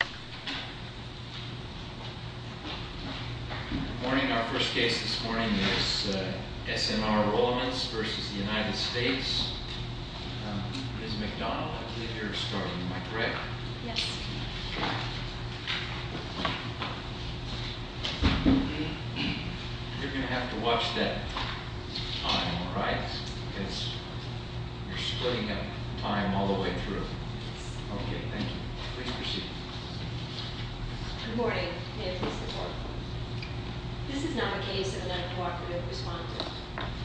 You're going to have to watch that time, alright, because you're splitting up time all the way Okay, thank you. We appreciate it. Good morning. May it please the Court. This is not a case of an uncooperative respondent.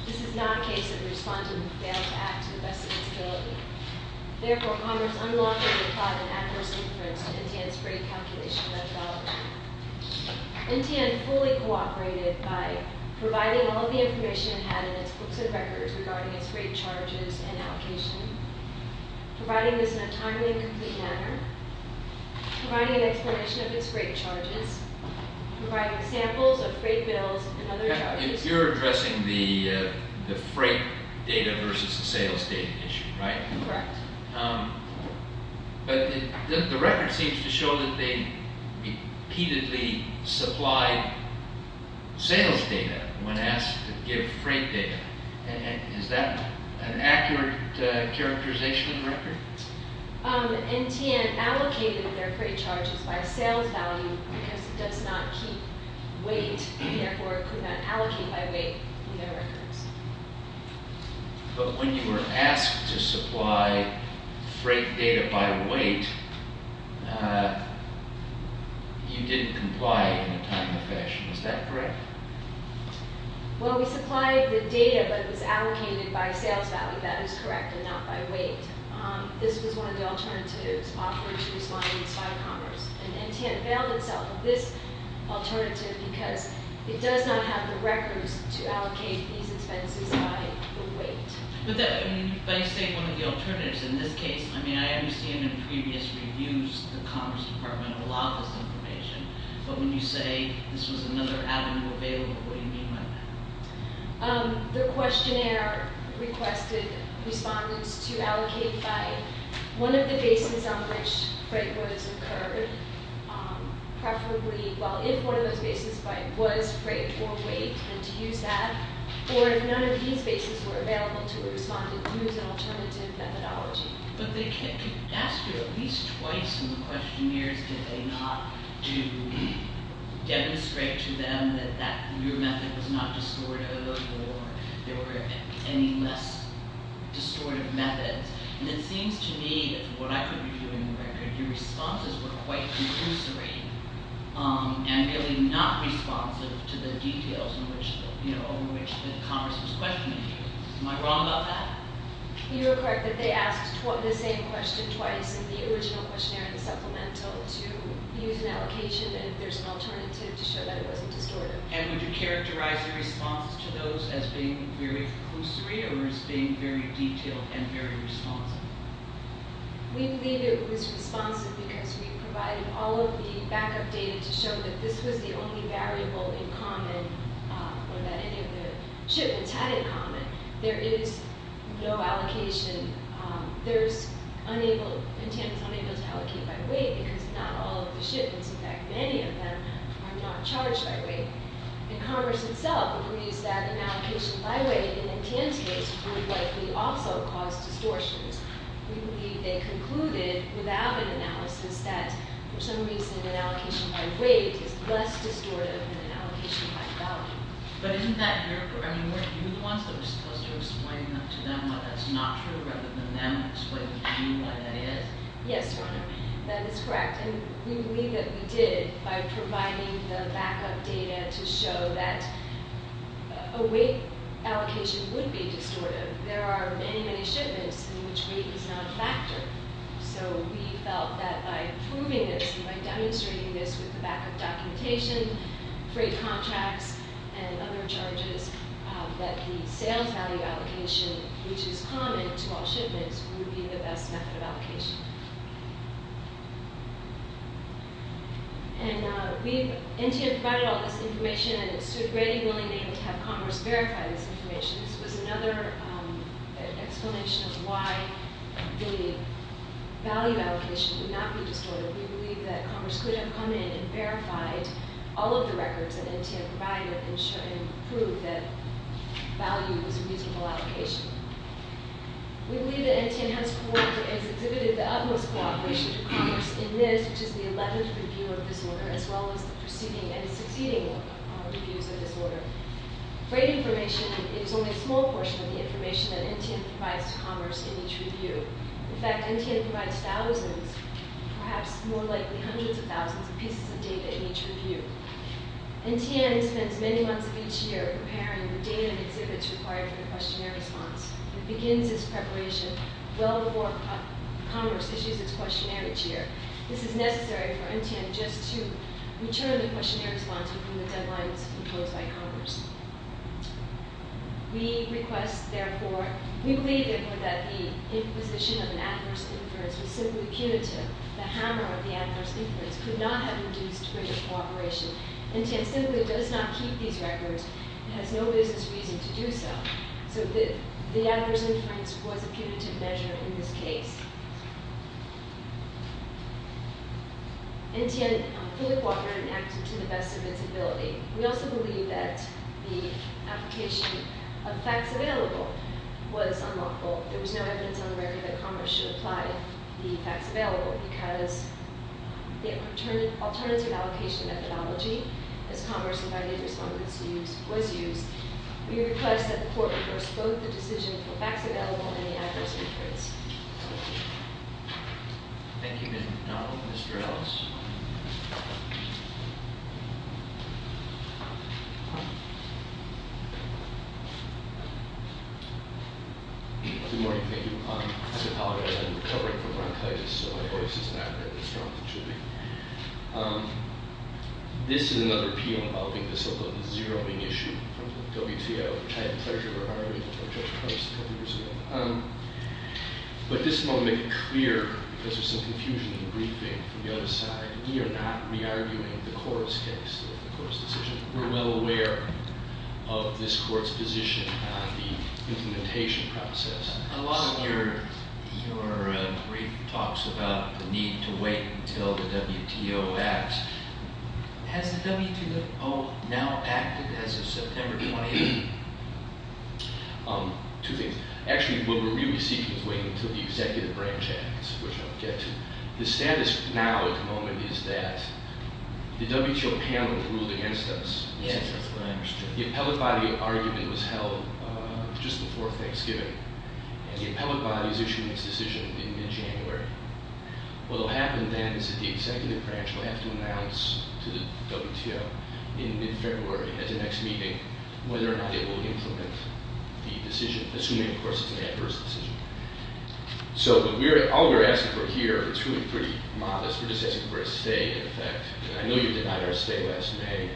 This is not a case of a respondent who failed to act to the best of his ability. Therefore, Congress unlawfully applied an adverse inference to NTN's rate calculation methodology. NTN fully cooperated by providing all of the information it had in its books and records regarding its rate charges and allocation, providing this in a timely and complete manner, providing an explanation of its rate charges, providing samples of freight bills and other charges. You're addressing the freight data versus the sales data issue, right? Correct. But the record seems to show that they repeatedly supplied sales data when asked to give freight data. Is that an accurate characterization of the record? NTN allocated their freight charges by sales value because it does not keep weight, and therefore could not allocate by weight in their records. But when you were asked to supply freight data by weight, you didn't comply in a timely fashion. Is that correct? Well, we supplied the data, but it was allocated by sales value. That is correct, and not by weight. This was one of the alternatives offered to respondents by Congress. And NTN availed itself of this alternative because it does not have the records to allocate these expenses by weight. But you state one of the alternatives in this case. I mean, I understand in previous reviews the Congress Department allowed this information. But when you say this was another avenue available, what do you mean by that? The questionnaire requested respondents to allocate by one of the bases on which freight was incurred. Preferably, well, if one of those bases was freight or weight, then to use that. Or if none of these bases were available to a respondent, to use an alternative methodology. But they could ask you at least twice in the questionnaires, did they not, to demonstrate to them that your method was not distortive or there were any less distortive methods. And it seems to me that from what I could review in the record, your responses were quite conclusory and really not responsive to the details over which the Congress was questioning you. Am I wrong about that? You are correct that they asked the same question twice in the original questionnaire and supplemental to use an allocation and if there's an alternative to show that it wasn't distortive. And would you characterize your response to those as being very conclusory or as being very detailed and very responsive? We believe it was responsive because we provided all of the backup data to show that this was the only variable in common or that any of the shipments had in common. There is no allocation. There's unable, Montana's unable to allocate by weight because not all of the shipments, in fact many of them, are not charged by weight. And Congress itself believes that an allocation by weight in Montana's case would likely also cause distortions. We believe they concluded without an analysis that for some reason an allocation by weight is less distortive than an allocation by value. But isn't that your, I mean weren't you the ones that were supposed to explain to them that that's not true rather than them explaining to you what that is? Yes, Your Honor, that is correct. And we believe that we did by providing the backup data to show that a weight allocation would be distortive. There are many, many shipments in which weight is not a factor. So we felt that by proving this and by demonstrating this with the backup documentation, freight contracts, and other charges, that the sales value allocation, which is common to all shipments, would be the best method of allocation. And we, NTA provided all this information and it stood ready, willing, and able to have Congress verify this information. This was another explanation of why the value allocation would not be distortive. We believe that Congress could have come in and verified all of the records that NTA provided and proved that value was a reasonable allocation. We believe that NTA has exhibited the utmost cooperation to Congress in this, which is the 11th review of this order, as well as the preceding and succeeding reviews of this order. Freight information is only a small portion of the information that NTA provides to Congress in each review. In fact, NTA provides thousands, perhaps more likely hundreds of thousands, of pieces of data in each review. NTA spends many months of each year preparing the data and exhibits required for the questionnaire response. It begins its preparation well before Congress issues its questionnaire each year. This is necessary for NTA just to return the questionnaire response when the deadline is imposed by Congress. We request, therefore, we believe, therefore, that the imposition of an adverse inference was simply punitive. The hammer of the adverse inference could not have induced further cooperation. NTA simply does not keep these records and has no business reason to do so. So the adverse inference was a punitive measure in this case. NTA fully cooperated and acted to the best of its ability. We also believe that the application of facts available was unlawful. There was no evidence on the record that Congress should apply the facts available because the alternative allocation methodology, as Congress invited respondents to use, was used. We request that the Court reverse both the decision for facts available and the adverse inference. Thank you. Thank you, Mr. Donnell. Mr. Ellis. Good morning. Thank you. I'm recovering from bronchitis, so my voice is not very strong, it should be. This is another appeal involving the so-called zeroing issue from the WTO. I had the pleasure of referring to it by Judge Price a couple years ago. But this moment is clear because there's some confusion in the briefing from the other side. We are not re-arguing the court's case, the court's decision. We're well aware of this court's position on the implementation process. A lot of your brief talks about the need to wait until the WTO acts. Has the WTO now acted as of September 28th? Two things. What we're really seeking is waiting until the executive branch acts, which I'll get to. The status now at the moment is that the WTO panel has ruled against us. Yes, that's what I understood. The appellate body argument was held just before Thanksgiving. And the appellate body is issuing its decision in mid-January. What will happen then is that the executive branch will have to announce to the WTO in mid-February, at the next meeting, whether or not it will implement the decision, assuming, of course, it's an adverse decision. So all we're asking for here is truly pretty modest. We're just asking for a stay, in effect. And I know you denied our stay last May.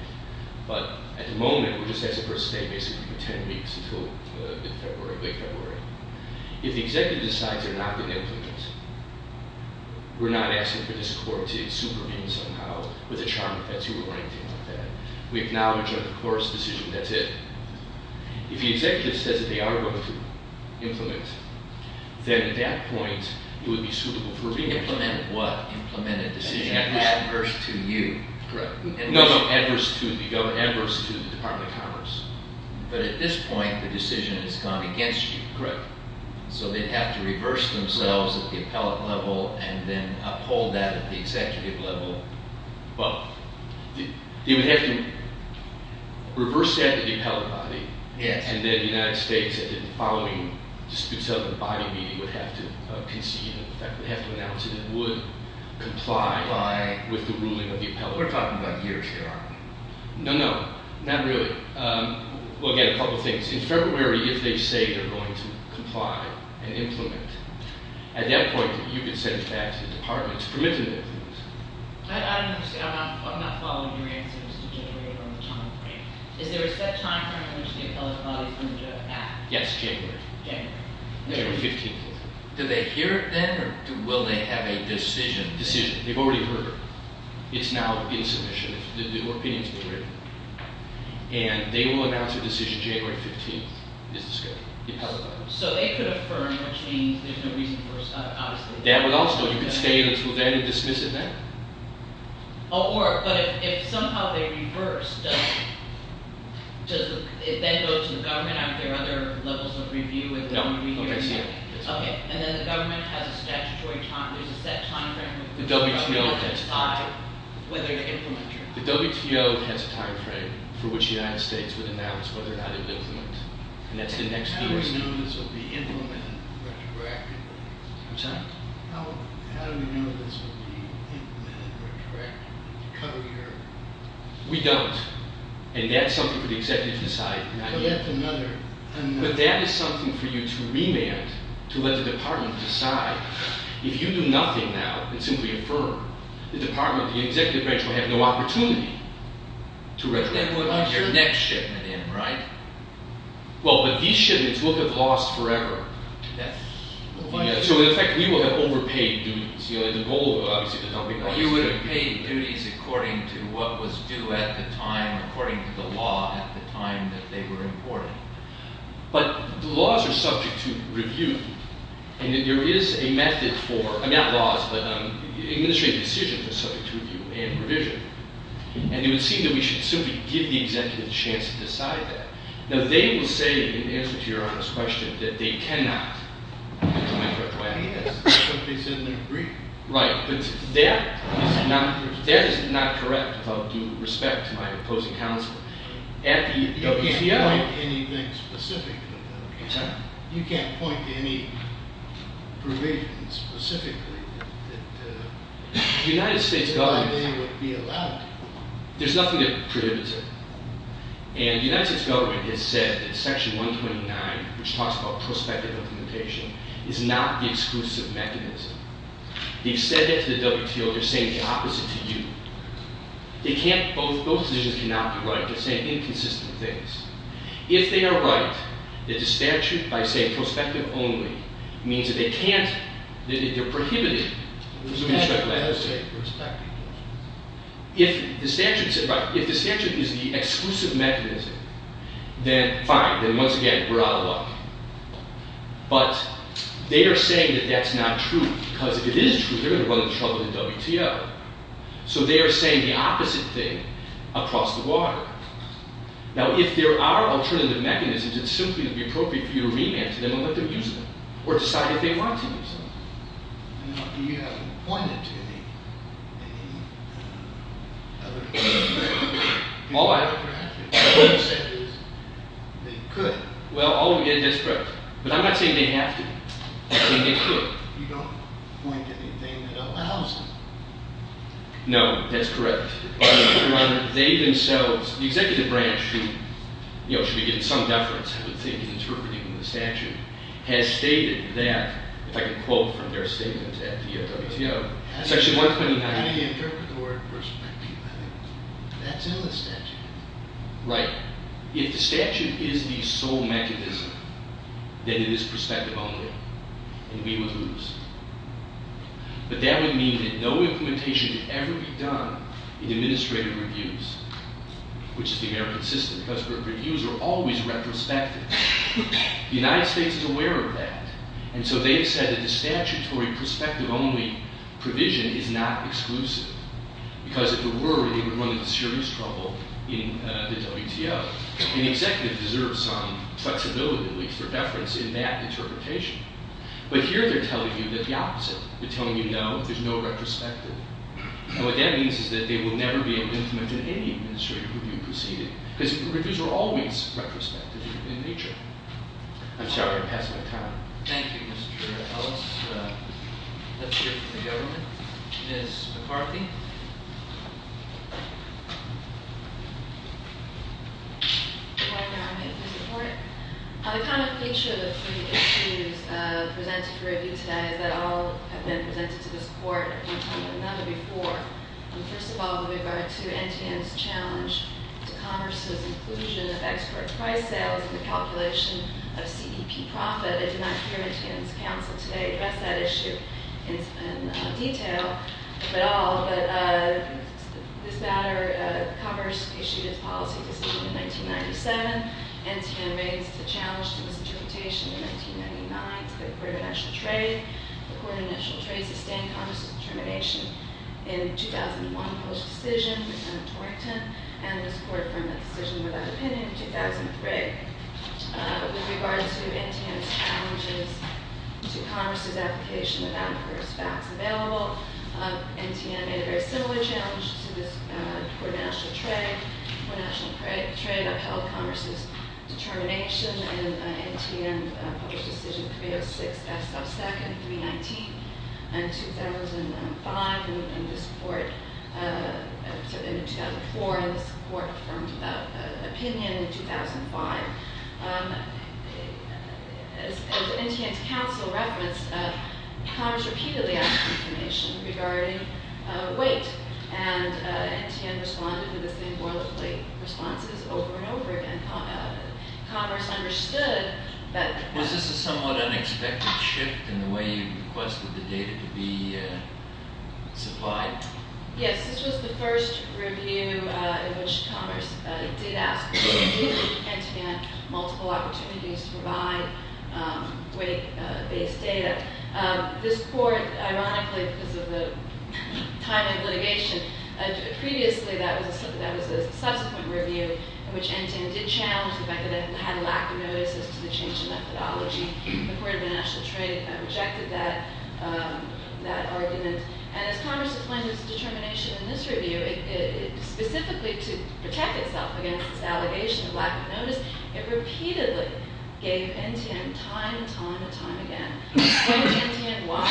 But at the moment, we're just asking for a stay basically for ten weeks until mid-February, late February. If the executive decides they're not going to implement, we're not asking for this court to supervene somehow with a charming tattoo or anything like that. We acknowledge that, of course, decision, that's it. If the executive says that they are going to implement, then at that point, it would be suitable for being implemented. Implement what? Implement a decision. Adverse to you. Correct. No, no, adverse to the government, adverse to the Department of Commerce. But at this point, the decision has gone against you. Correct. So they'd have to reverse themselves at the appellate level and then uphold that at the executive level. Well, they would have to reverse that at the appellate body. Yes. And then the United States at the following disputes of the body meeting would have to concede. In fact, they'd have to announce that it would comply with the ruling of the appellate body. We're talking about years here, aren't we? No, no, not really. Well, again, a couple of things. In February, if they say they're going to comply and implement, I don't understand. I'm not following your answer as to January or the time frame. Is there a set time frame in which the appellate body is going to act? Yes, January. January. January 15th. Do they hear it then or will they have a decision? Decision. They've already heard it. It's now in submission. The opinion's been written. And they will announce a decision January 15th is the schedule, the appellate body. So they could affirm, which means there's no reason for, obviously- You could stay until then and dismiss it then? Oh, but if somehow they reverse, does it then go to the government? Are there other levels of review? No. Okay. And then the government has a statutory time, there's a set time frame- The WTO has a time frame for which the United States would announce whether or not it would implement. And that's the next year. How do we know this will be implemented retroactively? I'm sorry? How do we know this will be implemented retroactively to cover your- We don't. And that's something for the executive to decide. So that's another- But that is something for you to remand, to let the department decide. If you do nothing now and simply affirm, the department, the executive branch will have no opportunity to retroact. But that would be your next shipment in, right? Well, but these shipments will have lost forever. That's- So, in effect, we will have overpaid duties. The goal, obviously- You would have paid duties according to what was due at the time, according to the law at the time that they were imported. But the laws are subject to review. And there is a method for- I mean, not laws, but administrative decisions are subject to review and revision. And it would seem that we should simply give the executive the chance to decide that. Now, they will say, in answer to your honest question, that they cannot implement retroactively. Yes, that's what they said in their brief. Right, but that is not correct with all due respect to my opposing counsel. At the WTO- I'm sorry? You can't point to any provisions specifically that- The United States government- That they would be allowed to. There's nothing that prohibits it. And the United States government has said that Section 129, which talks about prospective implementation, is not the exclusive mechanism. They've said that to the WTO. They're saying the opposite to you. They can't- Both decisions cannot be right. They're saying inconsistent things. If they are right, that the statute, by saying prospective only, means that they can't- that they're prohibited- The statute does say prospective only. If the statute is the exclusive mechanism, then fine. Then once again, we're out of luck. But they are saying that that's not true. Because if it is true, they're going to run into trouble at the WTO. So they are saying the opposite thing across the water. Now, if there are alternative mechanisms, it's simply going to be appropriate for you to remand to them and let them use them. Or decide if they want to use them. Now, you haven't pointed to any- All I- All you said is they could. Well, all we did- That's correct. But I'm not saying they have to. I'm saying they could. You don't point to anything that allows it. No, that's correct. But they themselves- the executive branch, who should be getting some deference, I would think, in interpreting the statute, has stated that- if I can quote from their statement at the WTO- How do you interpret the word prospective? That's in the statute. Right. If the statute is the sole mechanism, then it is prospective only. And we would lose. But that would mean that no implementation would ever be done in administrative reviews. Which is the American system. Because reviews are always retrospective. The United States is aware of that. And so they have said that the statutory prospective only provision is not exclusive. Because if it were, they would run into serious trouble in the WTO. And the executive deserves some flexibility, at least for deference, in that interpretation. But here they're telling you the opposite. They're telling you, no, there's no retrospective. And what that means is that they will never be able to implement in any administrative review proceeding. Because reviews are always retrospective in nature. I'm sorry, I'm passing my time. Thank you, Mr. Ellis. Let's hear from the government. Ms. McCarthy. Good morning, I'm here for support. The kind of feature of the three issues presented for review today is that all have been presented to this court. None of them before. First of all, with regard to NTN's challenge to commerce's inclusion of export price sales in the calculation of CEP profit. I did not hear NTN's counsel today address that issue in detail at all. But this matter, commerce issued its policy decision in 1997. NTN raised the challenge to this interpretation in 1999 to the Court of National Trade. The Court of National Trade sustained commerce's determination in 2001. Post-decision with Senator Torrington. And this court affirmed that decision without opinion in 2003. With regard to NTN's challenges to commerce's application without the first facts available. NTN made a very similar challenge to this Court of National Trade. When National Trade upheld commerce's determination in NTN's post-decision 306S sub-second 319 in 2005. And this court in 2004. And this court affirmed without opinion in 2005. As NTN's counsel referenced, commerce repeatedly asked for information regarding weight. And NTN responded with the same boilerplate responses over and over again. Commerce understood that. Was this a somewhat unexpected shift in the way you requested the data to be supplied? Yes, this was the first review in which commerce did ask NTN multiple opportunities to provide weight-based data. This court, ironically, because of the time of litigation, previously that was a subsequent review in which NTN did challenge the fact that it had a lack of notice as to the change in methodology. The Court of National Trade rejected that argument. And as commerce explained its determination in this review, specifically to protect itself against its allegation of lack of notice, it repeatedly gave NTN time and time and time again. It explained to NTN why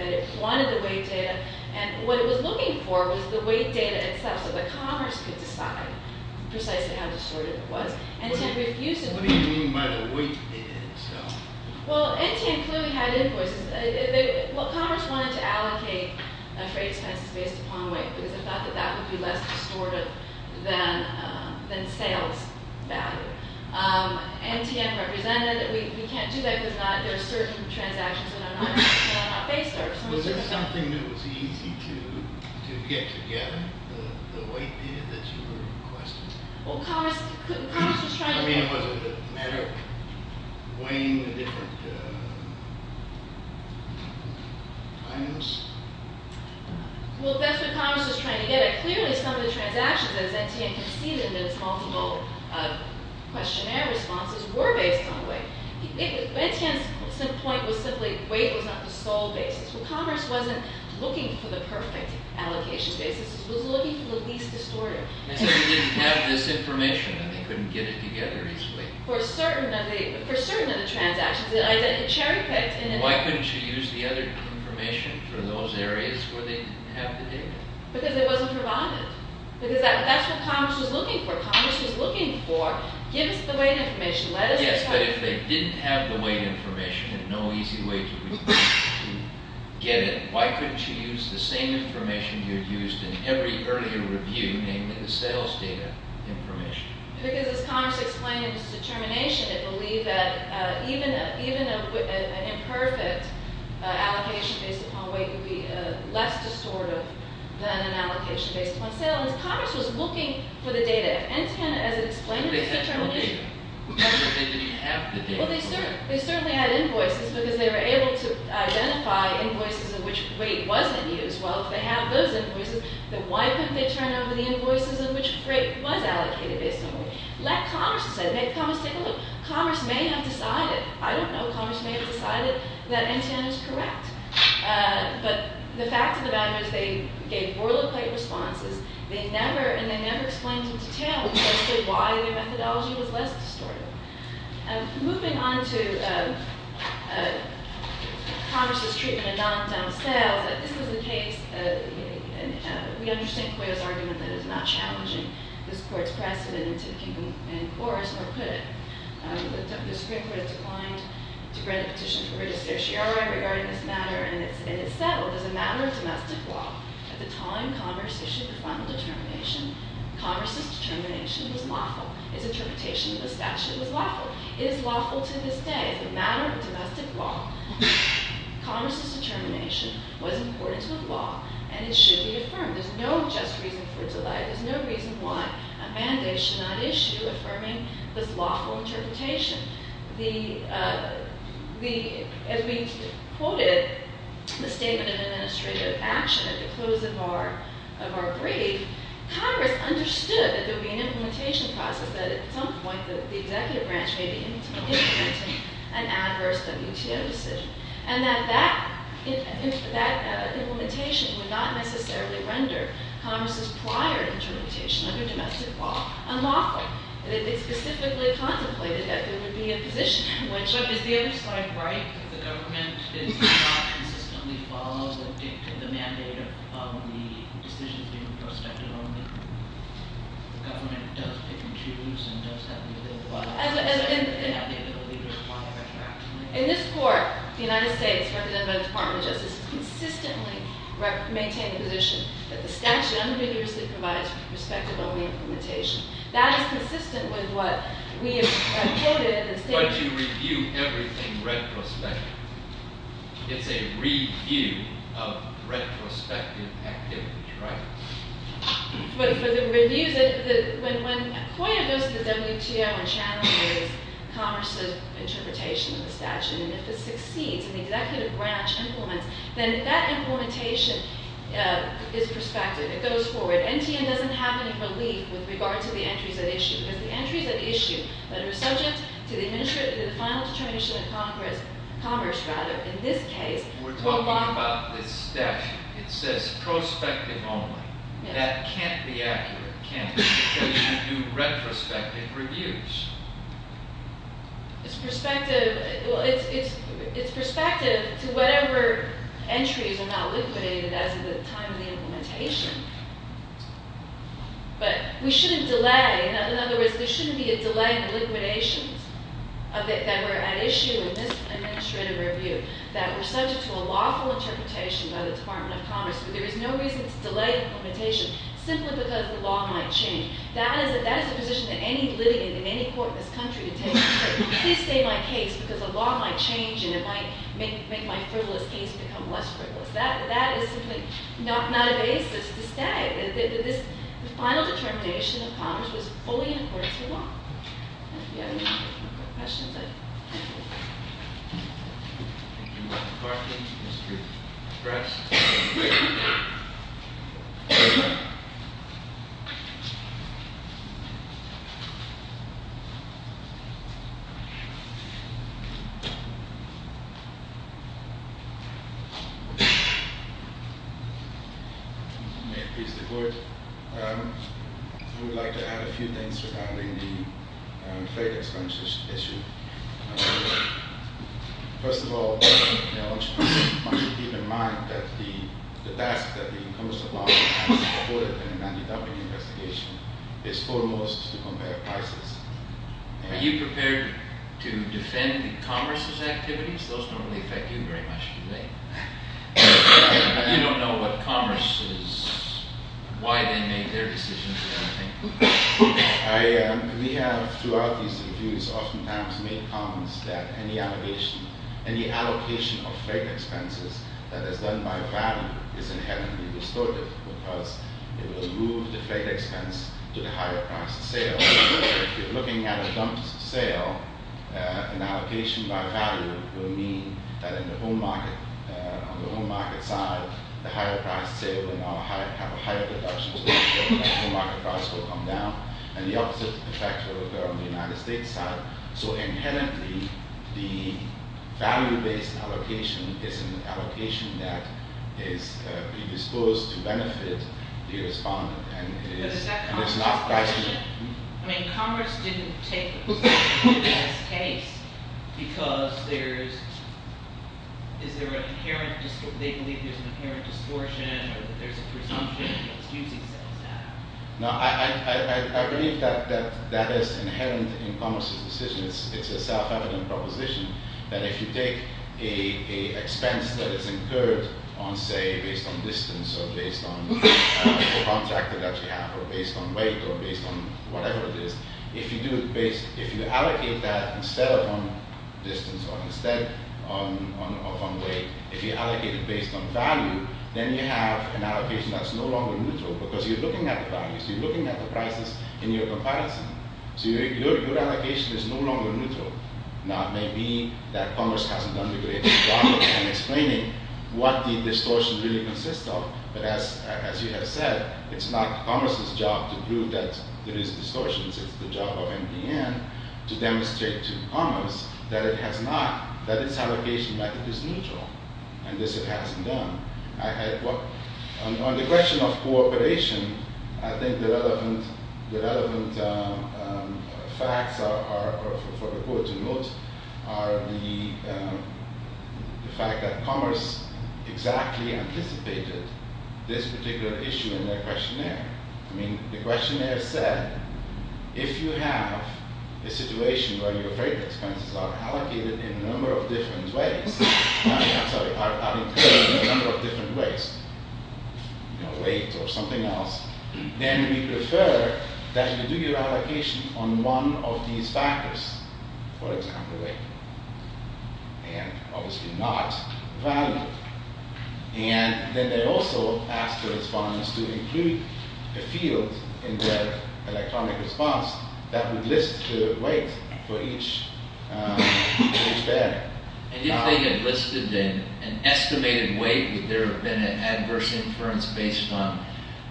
it wanted the weight data. And what it was looking for was the weight data itself so that commerce could decide precisely how distortive it was. And it had refused. What do you mean by the weight data itself? Well, NTN clearly had invoices. Well, commerce wanted to allocate freight expenses based upon weight because it thought that that would be less distortive than sales value. NTN represented that we can't do that because there are certain transactions that are not based. Was there something that was easy to get together, the weight data that you were requesting? Well, commerce was trying to get it. I mean, was it a matter of weighing the different items? Well, that's what commerce was trying to get at. Clearly, some of the transactions, as NTN conceded in its multiple questionnaire responses, were based on weight. NTN's point was simply weight was not the sole basis. Well, commerce wasn't looking for the perfect allocation basis. It was looking for the least distortive. They said they didn't have this information and they couldn't get it together easily. For certain of the transactions, it identically picked. Why couldn't you use the other information for those areas where they didn't have the data? Because it wasn't provided. Because that's what commerce was looking for. Commerce was looking for, give us the weight information. Yes, but if they didn't have the weight information and no easy way to get it, why couldn't you use the same information you had used in every earlier review, namely the sales data information? Because, as commerce explained in its determination, it believed that even an imperfect allocation based upon weight would be less distortive than an allocation based upon sales. Commerce was looking for the data. If NTN, as it explained in its determination… They didn't have the data. Well, they certainly had invoices because they were able to identify invoices in which weight wasn't used. Well, if they have those invoices, then why couldn't they turn over the invoices in which weight was allocated based on weight? Let commerce decide. Let commerce take a look. Commerce may have decided. I don't know. Commerce may have decided that NTN is correct. But the fact of the matter is they gave boilerplate responses and they never explained in detail why their methodology was less distortive. Moving on to commerce's treatment of non-dom sales, this was the case… We understand Coyote's argument that it is not challenging this court's precedent in taking an in-course, or could it? The Supreme Court declined to grant a petition for registration regarding this matter, and it settled as a matter of domestic law. At the time commerce issued the final determination, commerce's determination was lawful. It is lawful to this day. It's a matter of domestic law. Commerce's determination was important to the law, and it should be affirmed. There's no just reason for delay. There's no reason why a mandate should not issue affirming this lawful interpretation. As we quoted the statement of administrative action at the close of our brief, Congress understood that there would be an implementation process, that at some point the executive branch may be implementing an adverse WTO decision, and that that implementation would not necessarily render commerce's prior interpretation under domestic law unlawful. It specifically contemplated that there would be a position in which… The government does not consistently follow the mandate of the decisions being prospective only. The government does pick and choose, and does that really apply? In this court, the United States, represented by the Department of Justice, consistently maintains the position that the statute unambiguously provides for prospective only implementation. That is consistent with what we have quoted and stated. Why do you review everything retrospectively? It's a review of retrospective activity, right? But for the reviews… When a point goes to the WTO and challenges commerce's interpretation of the statute, and if it succeeds and the executive branch implements, then that implementation is prospective. It goes forward. NTN doesn't have any relief with regard to the entries at issue. Because the entries at issue that are subject to the final determination of commerce, in this case… We're talking about this statute. It says prospective only. That can't be accurate, can it? So you do retrospective reviews. It's prospective to whatever entries are not liquidated as of the time of the implementation. But we shouldn't delay. In other words, there shouldn't be a delay in liquidations that were at issue in this administrative review, that were subject to a lawful interpretation by the Department of Commerce. There is no reason to delay implementation simply because the law might change. That is a position that any litigant in any court in this country would take. Please stay my case because the law might change and it might make my frivolous case become less frivolous. That is simply not a basis to stay. The final determination of commerce was fully in accordance with the law. If you have any questions, I'd be happy to. Thank you, Madam Clerk and Mr. Press. May it please the Court. I would like to add a few things regarding the trade expansion issue. First of all, I want you to keep in mind that the task that the Commerce Department has supported in the Manny Duffy investigation is foremost to compare prices. Are you prepared to defend the Commerce's activities? Those don't really affect you very much, do they? You don't know what Commerce is, why they made their decisions, or anything? We have, throughout these reviews, oftentimes made comments that any allocation of freight expenses that is done by value is inherently distorted because it will move the freight expense to the higher priced sale. If you're looking at a dumped sale, an allocation by value will mean that on the home market side, the higher priced sale will have a higher reduction, so the home market price will come down. And the opposite effect will occur on the United States side. So, inherently, the value-based allocation is an allocation that is predisposed to benefit the respondent. But is that Commerce's decision? I mean, Commerce didn't take this case because they believe there's an inherent distortion or that there's a presumption that it's using sales data. No, I believe that that is inherent in Commerce's decision. It's a self-evident proposition that if you take an expense that is incurred on, say, based on distance or based on the contractor that you have, or based on weight, or based on whatever it is, if you allocate that instead of on distance or instead of on weight, if you allocate it based on value, then you have an allocation that's no longer neutral because you're looking at the values, you're looking at the prices in your comparison. So your allocation is no longer neutral. Now, it may be that Commerce hasn't done a great job in explaining what the distortion really consists of, but as you have said, it's not Commerce's job to prove that there is distortions. It's the job of MDN to demonstrate to Commerce that it has not, that its allocation method is neutral, and this it hasn't done. On the question of cooperation, I think the relevant facts are, for the court to note, are the fact that Commerce exactly anticipated this particular issue in their questionnaire. I mean, the questionnaire said, if you have a situation where your freight expenses are allocated in a number of different ways, I'm sorry, are incurred in a number of different ways, you know, weight or something else, then we prefer that you do your allocation on one of these factors, for example, weight, and obviously not value. And then they also asked the respondents to include a field in their electronic response that would list the weight for each bear. And if they had listed an estimated weight, would there have been an adverse inference based on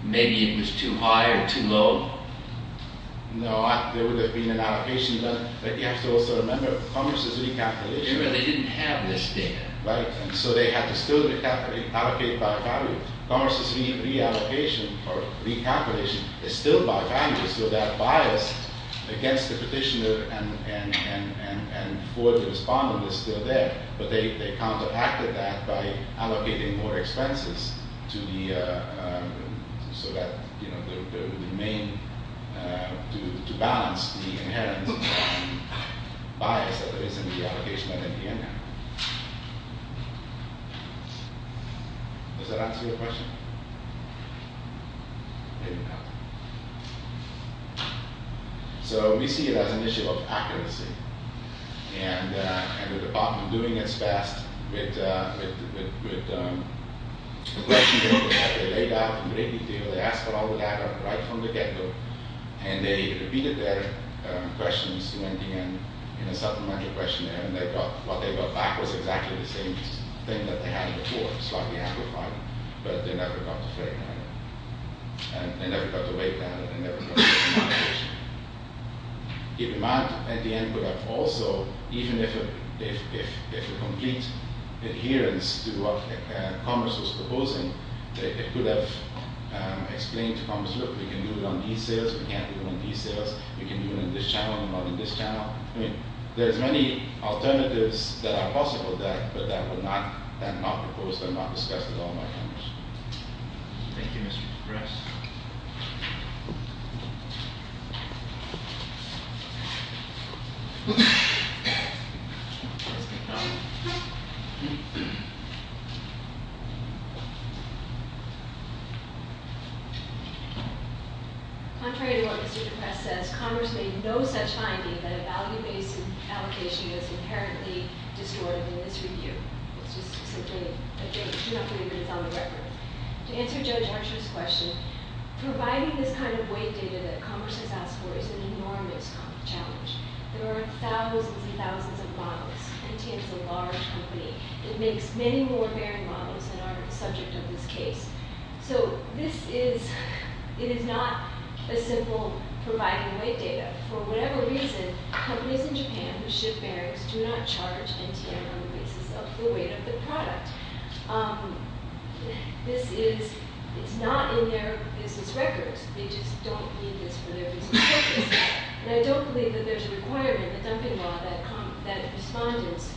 maybe it was too high or too low? No, there would have been an allocation, but you have to also remember Commerce's recalculation. Remember, they didn't have this data. Right, and so they had to still allocate by value. Commerce's reallocation or recalculation is still by value, so that bias against the petitioner and for the respondent is still there, but they counteracted that by allocating more expenses to the main, to balance the inherent bias that is in the allocation and in the inherent. So we see it as an issue of accuracy, and the department doing its best with the questions that we have laid out in great detail. They asked for all the data right from the get-go, and they repeated their questions in a supplemental questionnaire, and what they got back was exactly the same thing that they had before. It was slightly amplified, but they never got the fair amount, and they never got the weight added, and they never got the allocation. The demand at the end would have also, even if a complete adherence to what Commerce was proposing, they could have explained to Commerce, look, we can do it on these sales, we can't do it on these sales, we can do it on this channel and not on this channel. I mean, there's many alternatives that are possible there, but that were not proposed and not discussed at all by Commerce. Thank you, Mr. DePres. Contrary to what Mr. DePres says, Commerce made no such finding that a value-based allocation is inherently disordered in this review. To answer Judge Archer's question, providing this kind of weight data that Commerce has asked for is an enormous challenge. There are thousands and thousands of models. NTM is a large company. It makes many more bearing models than are the subject of this case. So this is, it is not a simple providing weight data. For whatever reason, companies in Japan who ship bearings do not charge NTM on the basis of the weight of the product. This is, it's not in their business records. They just don't need this for their business purposes. And I don't believe that there's a requirement in the dumping law that respondents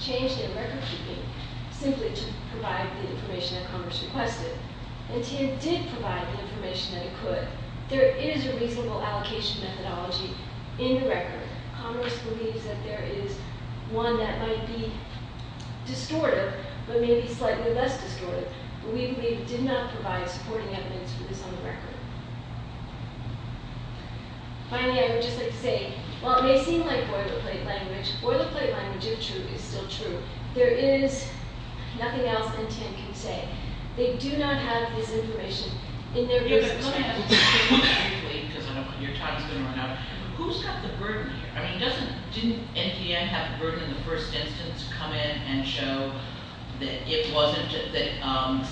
change their recordkeeping simply to provide the information that Commerce requested. NTM did provide the information that it could. There is a reasonable allocation methodology in the record. Commerce believes that there is one that might be distortive, but maybe slightly less distortive. But we believe it did not provide supporting evidence for this on the record. Finally, I would just like to say, while it may seem like boilerplate language, boilerplate language, if true, is still true. There is nothing else NTM can say. They do not have this information in their business records. I just want to ask you briefly, because I know your time is going to run out. Who's got the burden here? I mean, doesn't, didn't NTM have the burden in the first instance to come in and show that it wasn't, that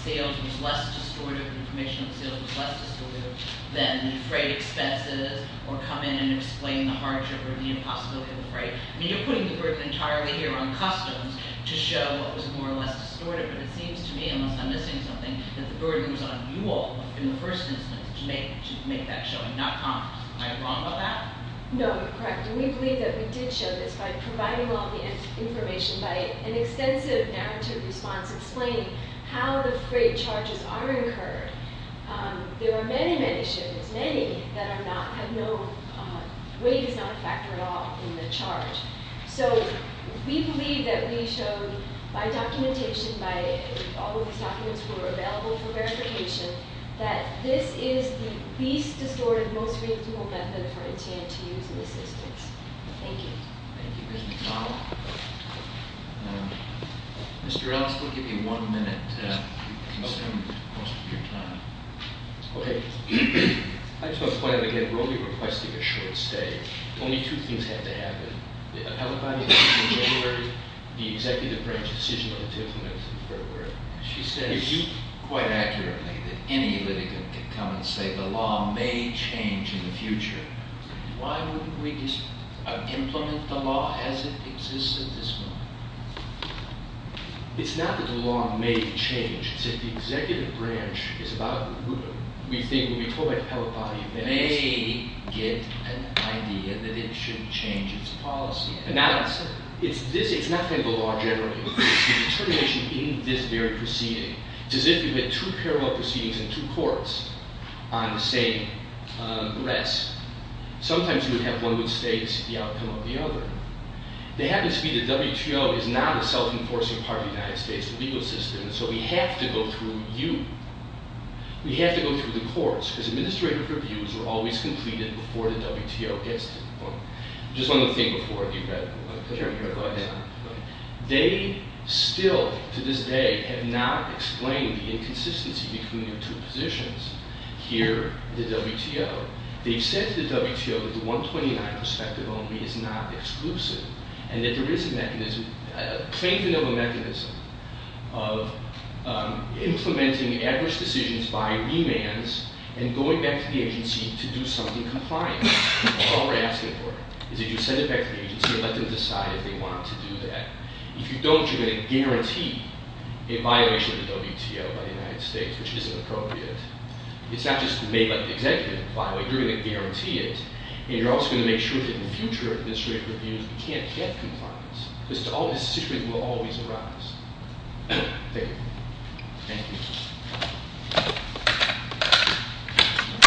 sales was less distortive, information on sales was less distortive than freight expenses, or come in and explain the hardship or the impossibility of a freight. I mean, you're putting the burden entirely here on customs to show what was more or less distortive. It seems to me, unless I'm missing something, that the burden was on you all in the first instance to make, to make that showing, not commerce. Am I wrong about that? No, you're correct. And we believe that we did show this by providing all the information by an extensive narrative response explaining how the freight charges are incurred. There are many, many shipments, many that are not, have no, weight is not a factor at all in the charge. So we believe that we showed by documentation, by all of these documents that were available for verification, that this is the least distortive, most reasonable method for NTM to use in this instance. Thank you. Thank you. Mr. McDonald. Mr. Reynolds, we'll give you one minute. You can spend most of your time. Okay. I just want to point out again, we're only requesting a short stay. Only two things have to happen. The Peloponnese decision in February, the executive branch decision, whether to implement it or not. She says quite accurately that any litigant could come and say the law may change in the future. Why wouldn't we just implement the law as it exists at this moment? It's not that the law may change. It's that the executive branch is about to remove it. They get an idea that it should change its policy. It's not the law generally. It's the determination in this very proceeding. It's as if you had two parallel proceedings in two courts on the same arrest. Sometimes you would have one that states the outcome of the other. They happen to be the WTO is not a self-enforcing part of the United States legal system. So we have to go through you. We have to go through the courts because administrative reviews are always completed before the WTO gets to the point. Just one more thing before you go. They still, to this day, have not explained the inconsistency between the two positions here at the WTO. They've said to the WTO that the 129 perspective only is not exclusive. And that there is a mechanism, a plaintiff of a mechanism, of implementing adverse decisions by remands and going back to the agency to do something compliant. All we're asking for is that you send it back to the agency and let them decide if they want to do that. If you don't, you're going to guarantee a violation of the WTO by the United States, which isn't appropriate. It's not just may let the executive apply. You're going to guarantee it. And you're also going to make sure that in the future administrative reviews, we can't get compliance. This situation will always arise. Thank you.